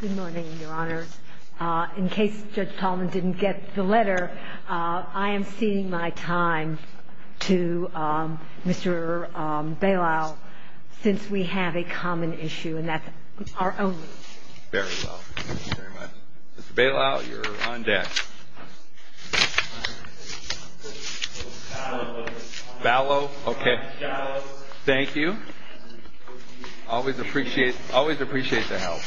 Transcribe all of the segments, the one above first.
Good morning, Your Honor. In case Judge Tallman didn't get the letter, I am ceding my time to Mr. Bailão since we have a common issue, and that's our own. Very well. Thank you very much. Mr. Bailão, you're on deck. Mr. Bailão. Bailão, okay. Thank you. Always appreciate the help.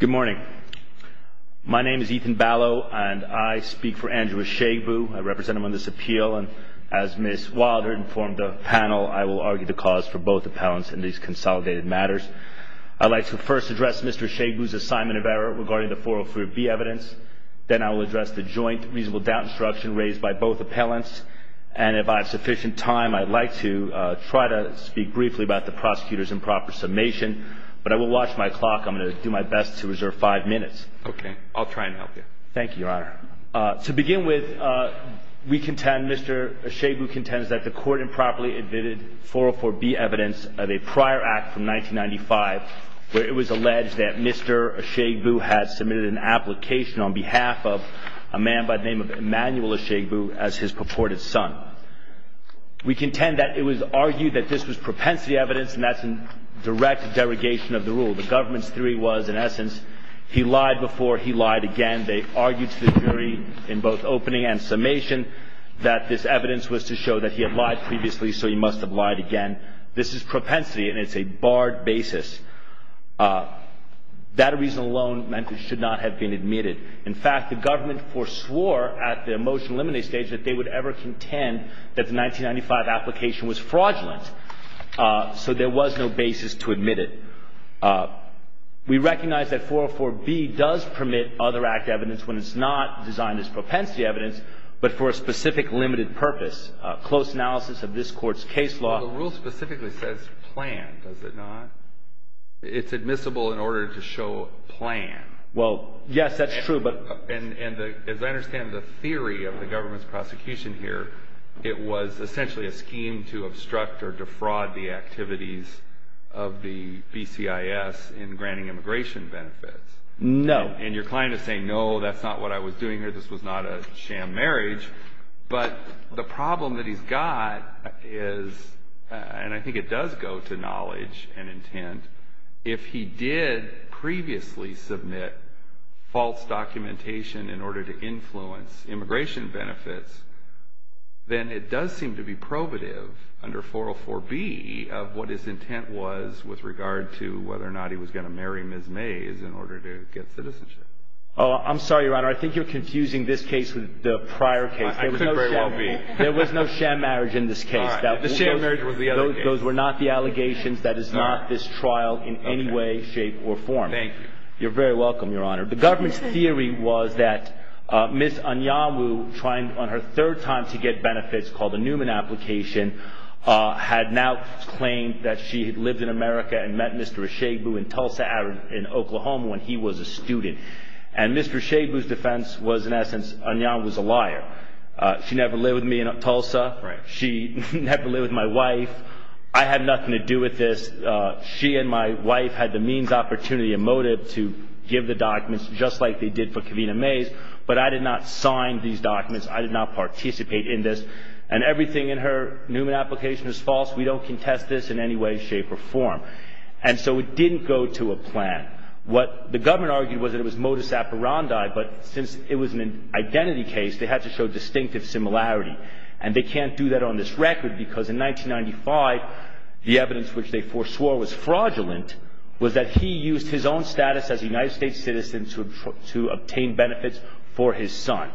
Good morning. My name is Ethan Bailão, and I speak for Andrew Eshagbu. I represent him on this appeal, and as Ms. Wilder informed the panel, I will argue the cause for both appellants in these consolidated matters. I'd like to first address Mr. Eshagbu's assignment of error regarding the 404B evidence. Then I will address the joint reasonable doubt instruction raised by both appellants. And if I have sufficient time, I'd like to try to speak briefly about the prosecutor's improper summation, but I will watch my clock. I'm going to do my best to reserve five minutes. Okay. I'll try and help you. Thank you, Your Honor. To begin with, we contend, Mr. Eshagbu contends that the court improperly admitted 404B evidence of a prior act from 1995 where it was alleged that Mr. Eshagbu had submitted an application on behalf of a man by the name of Emanuel Eshagbu as his purported son. We contend that it was argued that this was propensity evidence, and that's in direct derogation of the rule. The government's theory was, in essence, he lied before he lied again. They argued to the jury in both opening and summation that this evidence was to show that he had lied previously, so he must have lied again. This is propensity, and it's a barred basis. That reason alone meant it should not have been admitted. In fact, the government foreswore at the motion to eliminate stage that they would ever contend that the 1995 application was fraudulent. So there was no basis to admit it. We recognize that 404B does permit other act evidence when it's not designed as propensity evidence, but for a specific limited purpose. The rule specifically says plan, does it not? It's admissible in order to show plan. Well, yes, that's true. And as I understand the theory of the government's prosecution here, it was essentially a scheme to obstruct or defraud the activities of the BCIS in granting immigration benefits. No. And your client is saying, no, that's not what I was doing here. This was not a sham marriage. But the problem that he's got is, and I think it does go to knowledge and intent, if he did previously submit false documentation in order to influence immigration benefits, then it does seem to be probative under 404B of what his intent was with regard to whether or not he was going to marry Ms. Mays in order to get citizenship. Oh, I'm sorry, Your Honor. I think you're confusing this case with the prior case. I couldn't very well be. There was no sham marriage in this case. The sham marriage was the other case. Those were not the allegations. That is not this trial in any way, shape, or form. Thank you. You're very welcome, Your Honor. The government's theory was that Ms. Anyamu, on her third time to get benefits, called a Newman application, had now claimed that she had lived in America and met Mr. Ishebu in Tulsa, in Oklahoma, when he was a student. And Mr. Ishebu's defense was, in essence, Anyamu's a liar. She never lived with me in Tulsa. She never lived with my wife. I had nothing to do with this. She and my wife had the means, opportunity, and motive to give the documents just like they did for Kavina Mays, but I did not sign these documents. I did not participate in this. And everything in her Newman application is false. We don't contest this in any way, shape, or form. And so it didn't go to a plan. What the government argued was that it was modus operandi, but since it was an identity case, they had to show distinctive similarity. And they can't do that on this record because in 1995, the evidence which they foreswore was fraudulent was that he used his own status as a United States citizen to obtain benefits for his son.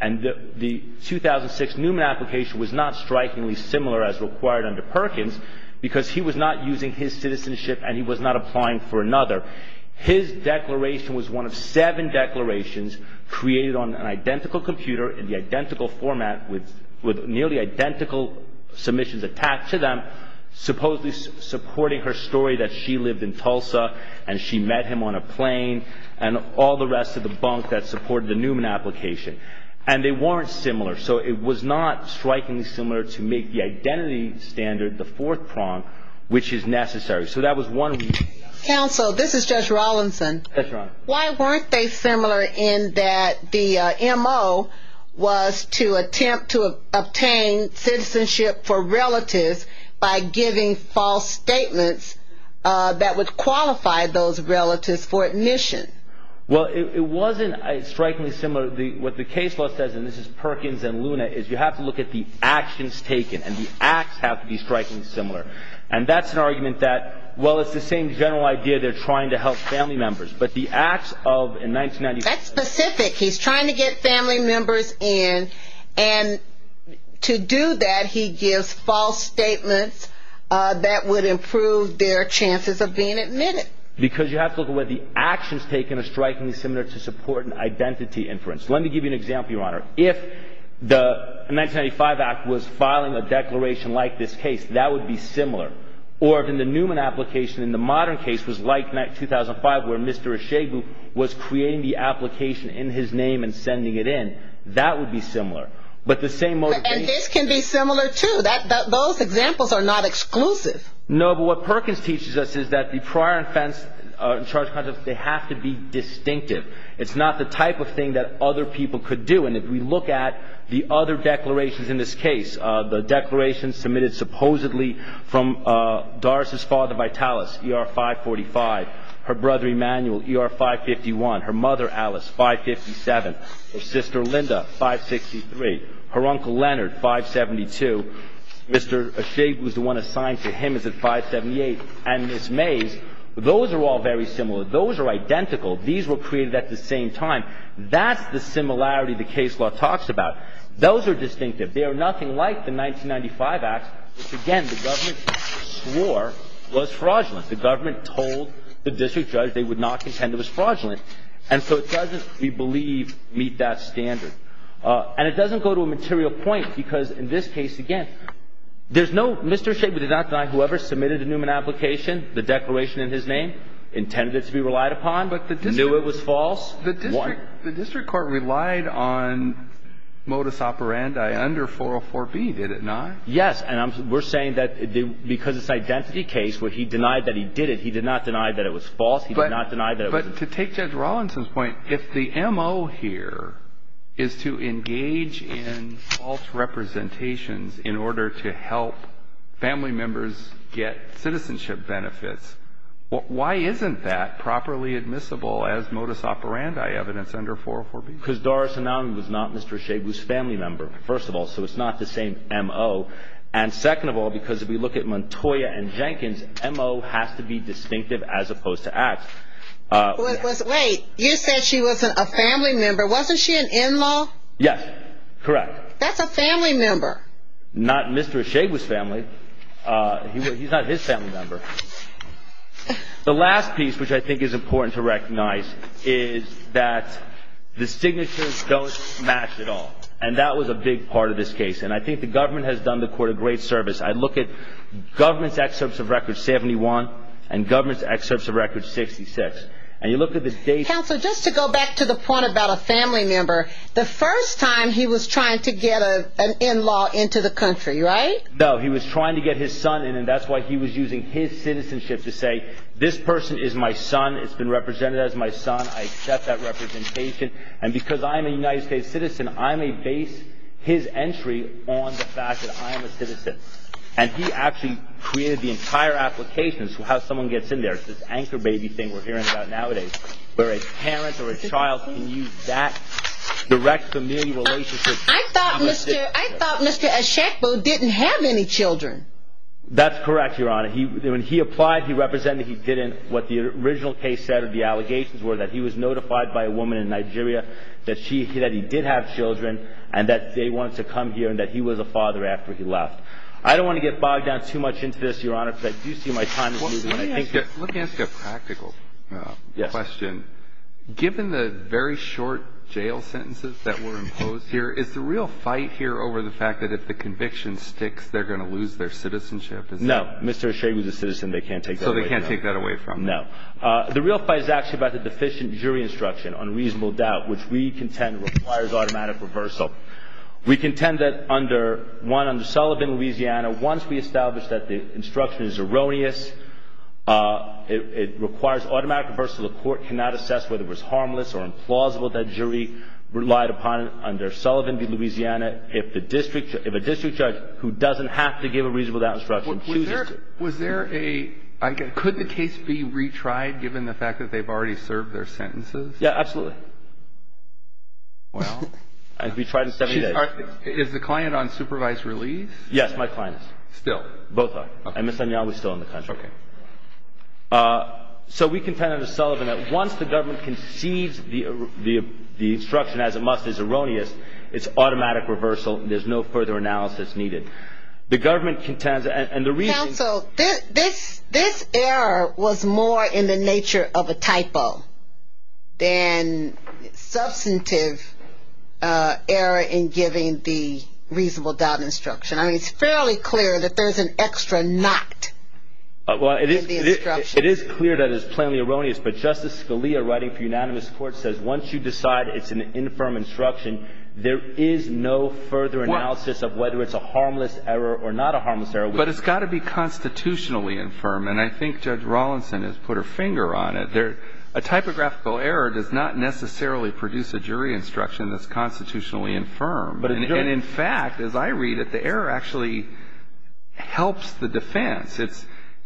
And the 2006 Newman application was not strikingly similar as required under Perkins because he was not using his citizenship and he was not applying for another. His declaration was one of seven declarations created on an identical computer in the identical format with nearly identical submissions attached to them, supposedly supporting her story that she lived in Tulsa and she met him on a plane and all the rest of the bunk that supported the Newman application. And they weren't similar. So it was not strikingly similar to make the identity standard the fourth prong which is necessary. Counsel, this is Judge Rawlinson. Why weren't they similar in that the M.O. was to attempt to obtain citizenship for relatives by giving false statements that would qualify those relatives for admission? Well, it wasn't strikingly similar. What the case law says, and this is Perkins and Luna, is you have to look at the actions taken and the acts have to be strikingly similar. And that's an argument that, well, it's the same general idea. They're trying to help family members. But the acts of in 1990. That's specific. He's trying to get family members in. And to do that, he gives false statements that would improve their chances of being admitted. Because you have to look at what the actions taken are strikingly similar to support an identity inference. Let me give you an example, Your Honor. If the 1995 act was filing a declaration like this case, that would be similar. Or if in the Newman application in the modern case was like 2005 where Mr. Echebu was creating the application in his name and sending it in, that would be similar. But the same motivation. And this can be similar, too. Those examples are not exclusive. No, but what Perkins teaches us is that the prior offense charge concepts, they have to be distinctive. It's not the type of thing that other people could do. And if we look at the other declarations in this case, the declaration submitted supposedly from Doris' father Vitalis, ER 545. Her brother Emanuel, ER 551. Her mother Alice, 557. Her sister Linda, 563. Her uncle Leonard, 572. Mr. Echebu, the one assigned to him, is at 578. And Ms. Mays, those are all very similar. Those are identical. These were created at the same time. That's the similarity the case law talks about. Those are distinctive. They are nothing like the 1995 act, which, again, the government swore was fraudulent. The government told the district judge they would not contend it was fraudulent. And so it doesn't, we believe, meet that standard. And it doesn't go to a material point because, in this case, again, there's no Mr. Echebu did not deny whoever submitted a Newman application, the declaration in his name, intended it to be relied upon, knew it was false. The district court relied on modus operandi under 404B, did it not? Yes. And we're saying that because it's an identity case where he denied that he did it, he did not deny that it was false. He did not deny that it was. But to take Judge Rawlinson's point, if the MO here is to engage in false representations in order to help family members get citizenship benefits, why isn't that properly admissible as modus operandi evidence under 404B? Because Doris Anown was not Mr. Echebu's family member, first of all, so it's not the same MO. And second of all, because if we look at Montoya and Jenkins, MO has to be distinctive as opposed to act. Wait, you said she was a family member. Wasn't she an in-law? Yes, correct. Not Mr. Echebu's family. He's not his family member. The last piece, which I think is important to recognize, is that the signatures don't match at all. And that was a big part of this case. And I think the government has done the court a great service. I look at government's excerpts of Record 71 and government's excerpts of Record 66, and you look at the dates. Counsel, just to go back to the point about a family member, the first time he was trying to get an in-law into the country, right? No, he was trying to get his son in, and that's why he was using his citizenship to say, this person is my son. It's been represented as my son. I accept that representation. And because I'm a United States citizen, I may base his entry on the fact that I am a citizen. And he actually created the entire application as to how someone gets in there. It's this anchor baby thing we're hearing about nowadays, where a parent or a child can use that direct family relationship. I thought Mr. Eshekbo didn't have any children. That's correct, Your Honor. When he applied, he represented he didn't. What the original case said or the allegations were that he was notified by a woman in Nigeria that he did have children and that they wanted to come here and that he was a father after he left. I don't want to get bogged down too much into this, Your Honor, because I do see my time is moving. Let me ask you a practical question. Given the very short jail sentences that were imposed here, is the real fight here over the fact that if the conviction sticks, they're going to lose their citizenship? No. Mr. Eshekbo is a citizen. They can't take that away from him. So they can't take that away from him. No. The real fight is actually about the deficient jury instruction on reasonable doubt, which we contend requires automatic reversal. We contend that, one, under Sullivan, Louisiana, once we establish that the instruction is erroneous, it requires automatic reversal. The court cannot assess whether it was harmless or implausible that jury relied upon it under Sullivan v. Louisiana. If a district judge who doesn't have to give a reasonable doubt instruction chooses to. Could the case be retried given the fact that they've already served their sentences? Yeah, absolutely. Wow. It can be tried in 70 days. Is the client on supervised release? Yes, my client is. Still? Both are. And Ms. O'Neill is still in the country. Okay. So we contend under Sullivan that once the government concedes the instruction as it must is erroneous, it's automatic reversal and there's no further analysis needed. The government contends and the reason. Counsel, this error was more in the nature of a typo than substantive error in giving the reasonable doubt instruction. I mean, it's fairly clear that there's an extra not in the instruction. It is clear that it's plainly erroneous, but Justice Scalia writing for unanimous court says once you decide it's an infirm instruction, there is no further analysis of whether it's a harmless error or not a harmless error. But it's got to be constitutionally infirm, and I think Judge Rawlinson has put her finger on it. A typographical error does not necessarily produce a jury instruction that's constitutionally infirm. And in fact, as I read it, the error actually helps the defense.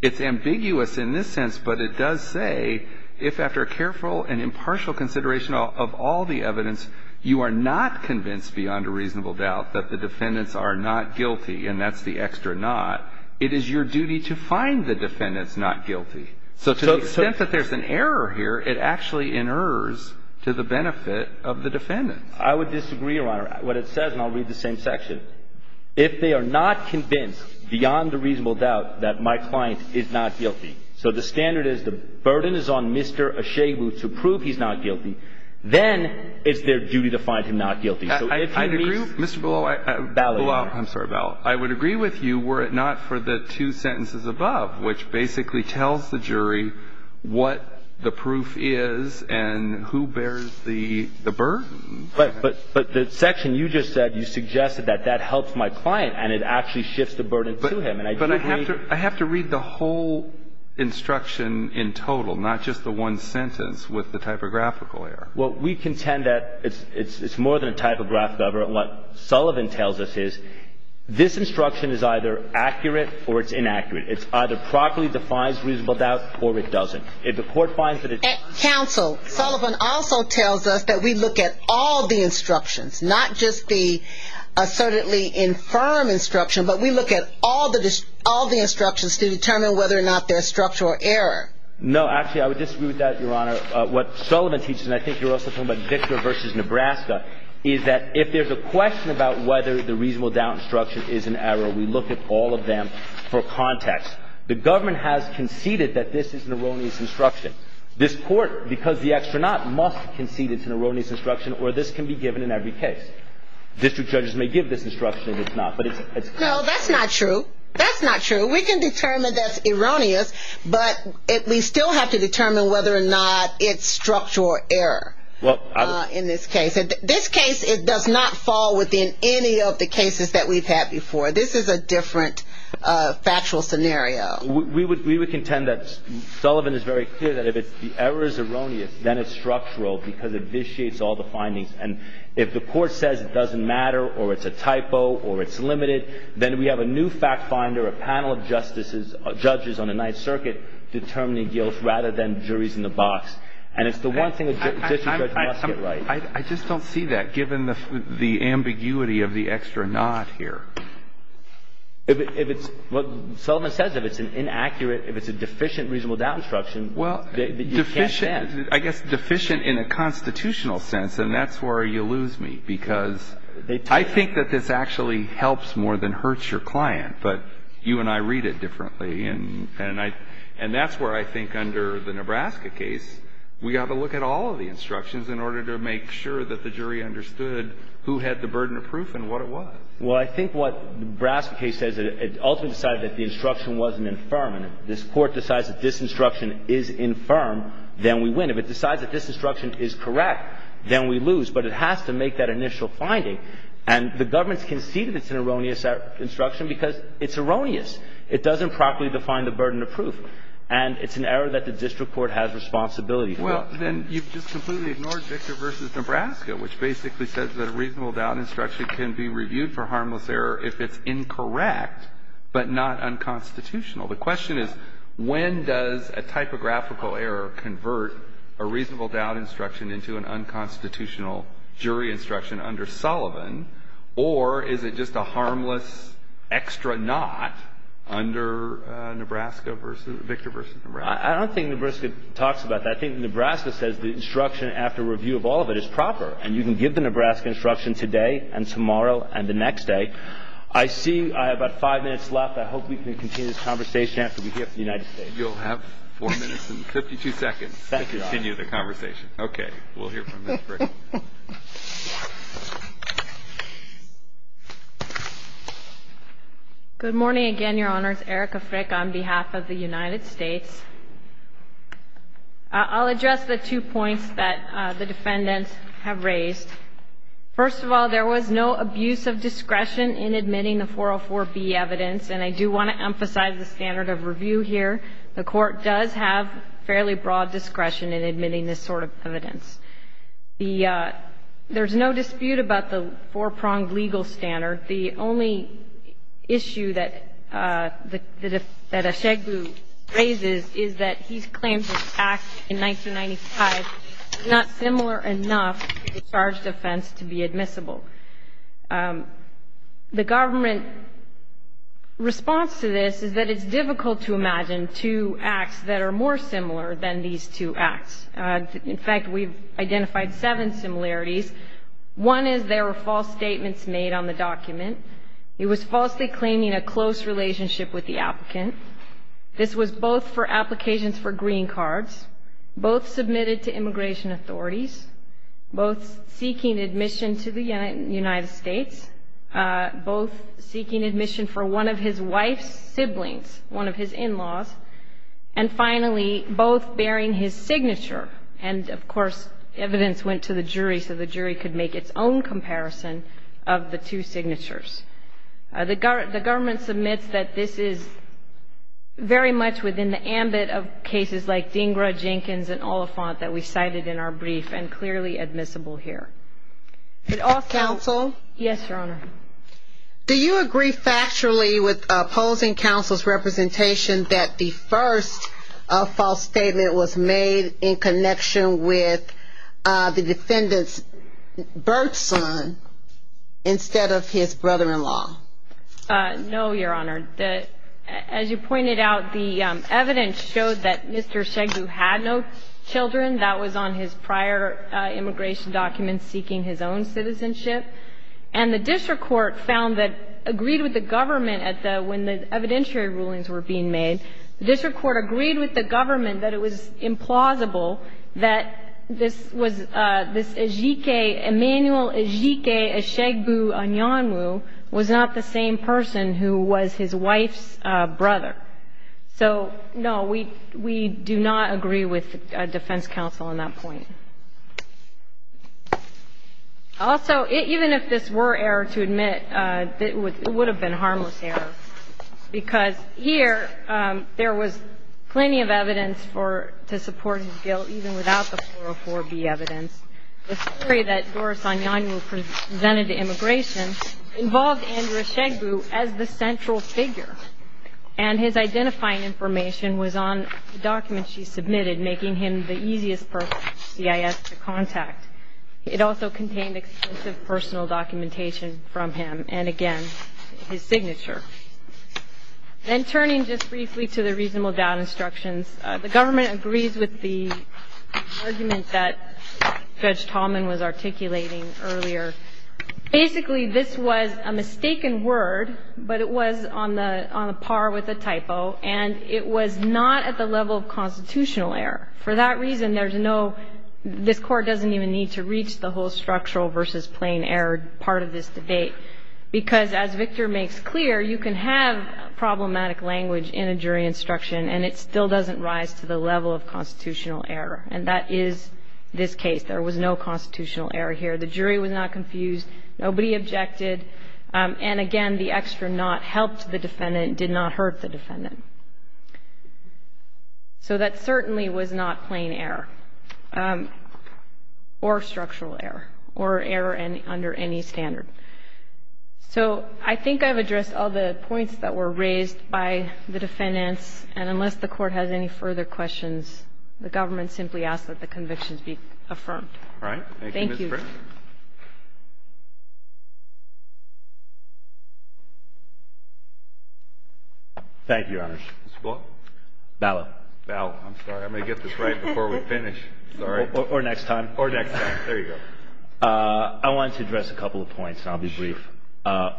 It's ambiguous in this sense, but it does say if after careful and impartial consideration of all the evidence, you are not convinced beyond a reasonable doubt that the defendants are not guilty, and that's the extra not, it is your duty to find the defendants not guilty. So to the extent that there's an error here, it actually inerrs to the benefit of the defendants. I would disagree, Your Honor. What it says, and I'll read the same section. If they are not convinced beyond a reasonable doubt that my client is not guilty, so the standard is the burden is on Mr. Ashaibu to prove he's not guilty, then it's their duty to find him not guilty. So if he meets the ballot. I would agree with you were it not for the two sentences above, which basically tells the jury what the proof is and who bears the burden. But the section you just said, you suggested that that helps my client and it actually shifts the burden to him. But I have to read the whole instruction in total, not just the one sentence with the typographical error. Well, we contend that it's more than a typographical error. What Sullivan tells us is this instruction is either accurate or it's inaccurate. It either properly defines reasonable doubt or it doesn't. Counsel, Sullivan also tells us that we look at all the instructions, not just the assertedly infirm instruction, but we look at all the instructions to determine whether or not they're structural error. No, actually, I would disagree with that, Your Honor. What Sullivan teaches, and I think you're also talking about Victor versus Nebraska, is that if there's a question about whether the reasonable doubt instruction is an error, we look at all of them for context. The government has conceded that this is an erroneous instruction. This court, because the extranaut, must concede it's an erroneous instruction or this can be given in every case. District judges may give this instruction if it's not. No, that's not true. That's not true. We can determine that's erroneous, but we still have to determine whether or not it's structural error in this case. This case, it does not fall within any of the cases that we've had before. This is a different factual scenario. We would contend that Sullivan is very clear that if the error is erroneous, then it's structural because it vitiates all the findings. And if the court says it doesn't matter or it's a typo or it's limited, then we have a new fact finder, a panel of judges on the Ninth Circuit, determining guilt rather than juries in the box. And it's the one thing a district judge must get right. I just don't see that, given the ambiguity of the extranaut here. If it's what Sullivan says, if it's an inaccurate, if it's a deficient reasonable doubt instruction, you can't say that. I guess deficient in a constitutional sense, and that's where you lose me, because I think that this actually helps more than hurts your client, but you and I read it differently. And that's where I think under the Nebraska case, we got to look at all of the instructions in order to make sure that the jury understood who had the burden of proof and what it was. Well, I think what the Nebraska case says, it ultimately decided that the instruction wasn't infirm. And if this Court decides that this instruction is infirm, then we win. If it decides that this instruction is correct, then we lose. But it has to make that initial finding. And the government's conceded it's an erroneous instruction because it's erroneous. It doesn't properly define the burden of proof. And it's an error that the district court has responsibility for. Well, then you've just completely ignored Victor v. Nebraska, which basically says that a reasonable doubt instruction can be reviewed for harmless error if it's incorrect but not unconstitutional. The question is, when does a typographical error convert a reasonable doubt instruction into an unconstitutional jury instruction under Sullivan, or is it just a harmless extra not under Victor v. Nebraska? I don't think Nebraska talks about that. I think Nebraska says the instruction after review of all of it is proper, and you can give the Nebraska instruction today and tomorrow and the next day. I see I have about five minutes left. I hope we can continue this conversation after we hear from the United States. Thank you, Your Honor. Okay. We'll hear from Ms. Frick. Good morning again, Your Honors. Erica Frick on behalf of the United States. I'll address the two points that the defendants have raised. First of all, there was no abuse of discretion in admitting the 404B evidence, and I do want to emphasize the standard of review here. The Court does have fairly broad discretion in admitting this sort of evidence. There's no dispute about the four-pronged legal standard. The only issue that Ashegbu raises is that he's claimed his act in 1995 is not similar enough to discharge defense to be admissible. The government response to this is that it's difficult to imagine two acts that are more similar than these two acts. In fact, we've identified seven similarities. One is there were false statements made on the document. He was falsely claiming a close relationship with the applicant. This was both for applications for green cards, both submitted to immigration authorities, both seeking admission to the United States, both seeking admission for one of his wife's siblings, one of his in-laws, and finally, both bearing his signature. And, of course, evidence went to the jury so the jury could make its own comparison of the two signatures. The government submits that this is very much within the ambit of cases like Dhingra, Jenkins, and Oliphant that we cited in our brief and clearly admissible here. Counsel? Yes, Your Honor. Do you agree factually with opposing counsel's representation that the first false statement was made in connection with the defendant's birth son instead of his brother-in-law? No, Your Honor. As you pointed out, the evidence showed that Mr. Ejigbe had no children. That was on his prior immigration documents seeking his own citizenship. And the district court found that, agreed with the government at the — when the evidentiary rulings were being made, the district court agreed with the government that it was implausible that this was — this Ejigbe, Emanuel Ejigbe, Ejigbu Anyanwu, was not the same person who was his wife's brother. So, no, we do not agree with defense counsel on that point. Also, even if this were error to admit, it would have been harmless error, because here there was plenty of evidence for — to support his guilt even without the 404B evidence. The story that Doris Anyanwu presented to immigration involved Andrew Ejigbu as the central figure. And his identifying information was on the documents she submitted, making him the easiest person, CIS, to contact. It also contained extensive personal documentation from him and, again, his signature. Then turning just briefly to the reasonable doubt instructions, the government agrees with the argument that Judge Tallman was articulating earlier. Basically, this was a mistaken word, but it was on the par with a typo, and it was not at the level of constitutional error. For that reason, there's no — this Court doesn't even need to reach the whole structural versus plain error part of this debate, because, as Victor makes clear, you can have And that is this case. There was no constitutional error here. The jury was not confused. Nobody objected. And, again, the extra not helped the defendant, did not hurt the defendant. So that certainly was not plain error or structural error or error under any standard. So I think I've addressed all the points that were raised by the defendants. And unless the Court has any further questions, the government simply asks that the convictions be affirmed. All right. Thank you, Mr. Prince. Thank you. Thank you, Your Honors. Mr. Bull? Ballot. Ballot. I'm sorry. I'm going to get this right before we finish. Sorry. Or next time. Or next time. There you go. I wanted to address a couple of points, and I'll be brief.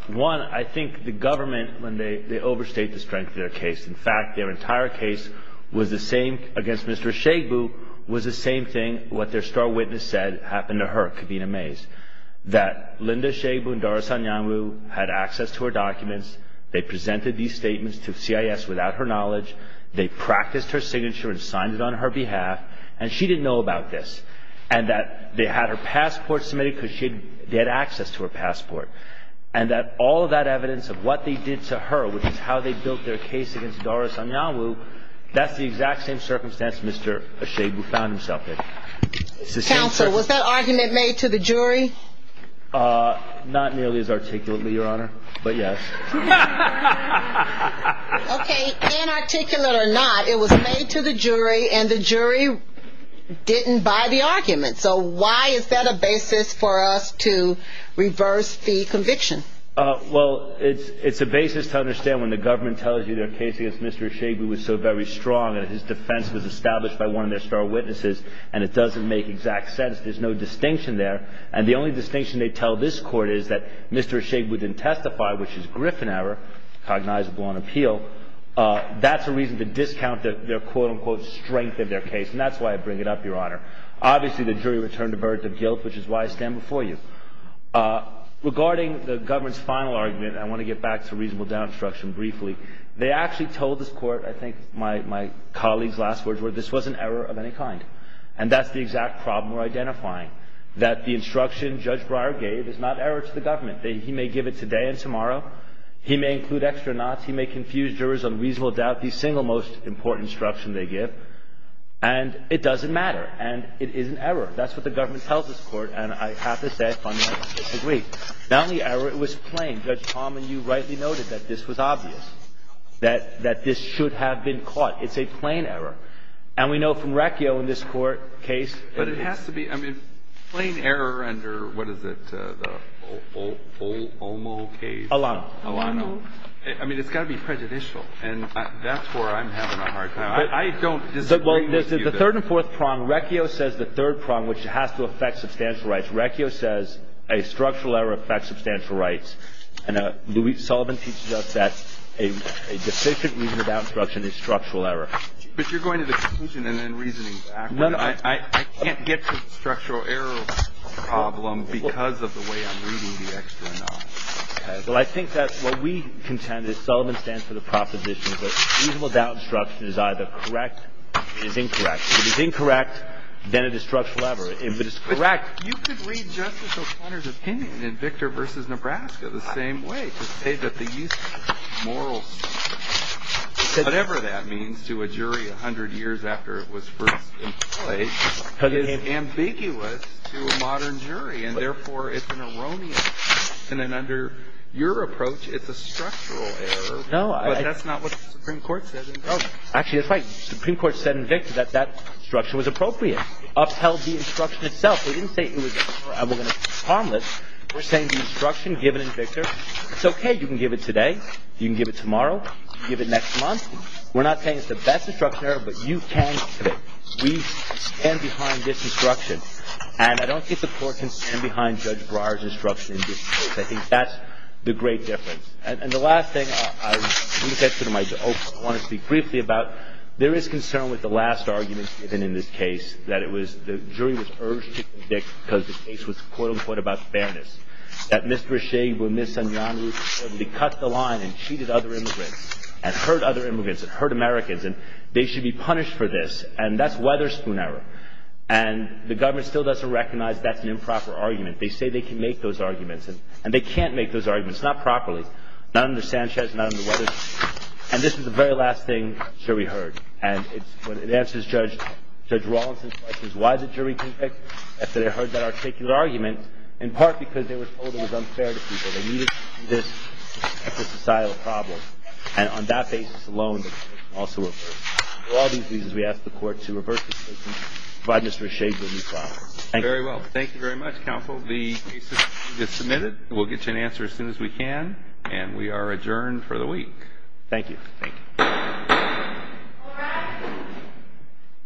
One, I think the government, when they overstate the strength of their case. In fact, their entire case was the same, against Mr. Shagbu, was the same thing, what their star witness said happened to her, Kavina Mays. That Linda Shagbu and Dara Sanyamu had access to her documents. They presented these statements to CIS without her knowledge. They practiced her signature and signed it on her behalf. And she didn't know about this. And that they had her passport submitted because they had access to her passport. And that all of that evidence of what they did to her, which is how they built their case against Dara Sanyamu, that's the exact same circumstance Mr. Shagbu found himself in. Counsel, was that argument made to the jury? Not nearly as articulately, Your Honor, but yes. Okay, inarticulate or not, it was made to the jury, and the jury didn't buy the argument. So why is that a basis for us to reverse the conviction? Well, it's a basis to understand when the government tells you their case against Mr. Shagbu was so very strong, and his defense was established by one of their star witnesses, and it doesn't make exact sense. There's no distinction there. And the only distinction they tell this Court is that Mr. Shagbu didn't testify, which is Griffin error, cognizable on appeal. That's a reason to discount their quote-unquote strength of their case. And that's why I bring it up, Your Honor. Obviously, the jury returned a verdict of guilt, which is why I stand before you. Regarding the government's final argument, I want to get back to reasonable doubt instruction briefly. They actually told this Court, I think my colleague's last words were, this wasn't error of any kind. And that's the exact problem we're identifying, that the instruction Judge Breyer gave is not error to the government. He may give it today and tomorrow. He may include extra knots. He may confuse jurors on reasonable doubt, the single most important instruction they give, and it doesn't matter. And it isn't error. That's what the government tells this Court, and I have to say I fundamentally agree. Not only error, it was plain. Judge Palmer, you rightly noted that this was obvious, that this should have been caught. It's a plain error. And we know from Recchio in this Court case that it's been caught. But it has to be. I mean, plain error under, what is it, the Omo case? Alano. Alano. I mean, it's got to be prejudicial. And that's where I'm having a hard time. I don't disagree with you. The third and fourth prong, Recchio says the third prong, which has to affect substantial rights. Recchio says a structural error affects substantial rights. And Louis Sullivan teaches us that a deficient reasonable doubt instruction is structural error. But you're going to the conclusion and then reasoning. I can't get to the structural error problem because of the way I'm reading the extra knots. Okay. Well, I think that what we contend is Sullivan stands for the proposition that reasonable doubt instruction is either correct, or it is incorrect. If it is incorrect, then it is structural error. If it is correct, you could read Justice O'Connor's opinion in Victor v. Nebraska the same way, to say that the use of moral standards, whatever that means to a jury 100 years after it was first employed, is ambiguous to a modern jury. And, therefore, it's an erroneous. And then under your approach, it's a structural error. But that's not what the Supreme Court said. Actually, that's right. The Supreme Court said in Victor that that instruction was appropriate. Upheld the instruction itself. We didn't say it was harmless. We're saying the instruction given in Victor, it's okay. You can give it today. You can give it tomorrow. You can give it next month. We're not saying it's the best instruction error, but you can give it. We stand behind this instruction. And I don't think the Court can stand behind Judge Breyer's instruction in Victor. I think that's the great difference. And the last thing I want to speak briefly about, there is concern with the last argument given in this case, that it was the jury was urged to convict because the case was, quote-unquote, about fairness, that Mr. Ashae and Ms. Sanyanu had cut the line and cheated other immigrants and hurt other immigrants and hurt Americans, and they should be punished for this. And that's Weatherspoon error. And the government still doesn't recognize that's an improper argument. They say they can make those arguments, and they can't make those arguments. It's not properly. Not under Sanchez. Not under Weatherspoon. And this is the very last thing the jury heard. And it answers Judge Rawlinson's questions, why the jury convicts, after they heard that articulate argument, in part because they were told it was unfair to people. They needed this extra societal problem. And on that basis alone, it also refers to all these reasons we ask the Court to reverse this case and provide Mr. Ashae with a new trial. Thank you. Very well. Thank you very much, counsel. The case is submitted. We'll get you an answer as soon as we can. And we are adjourned for the week. Thank you. Thank you.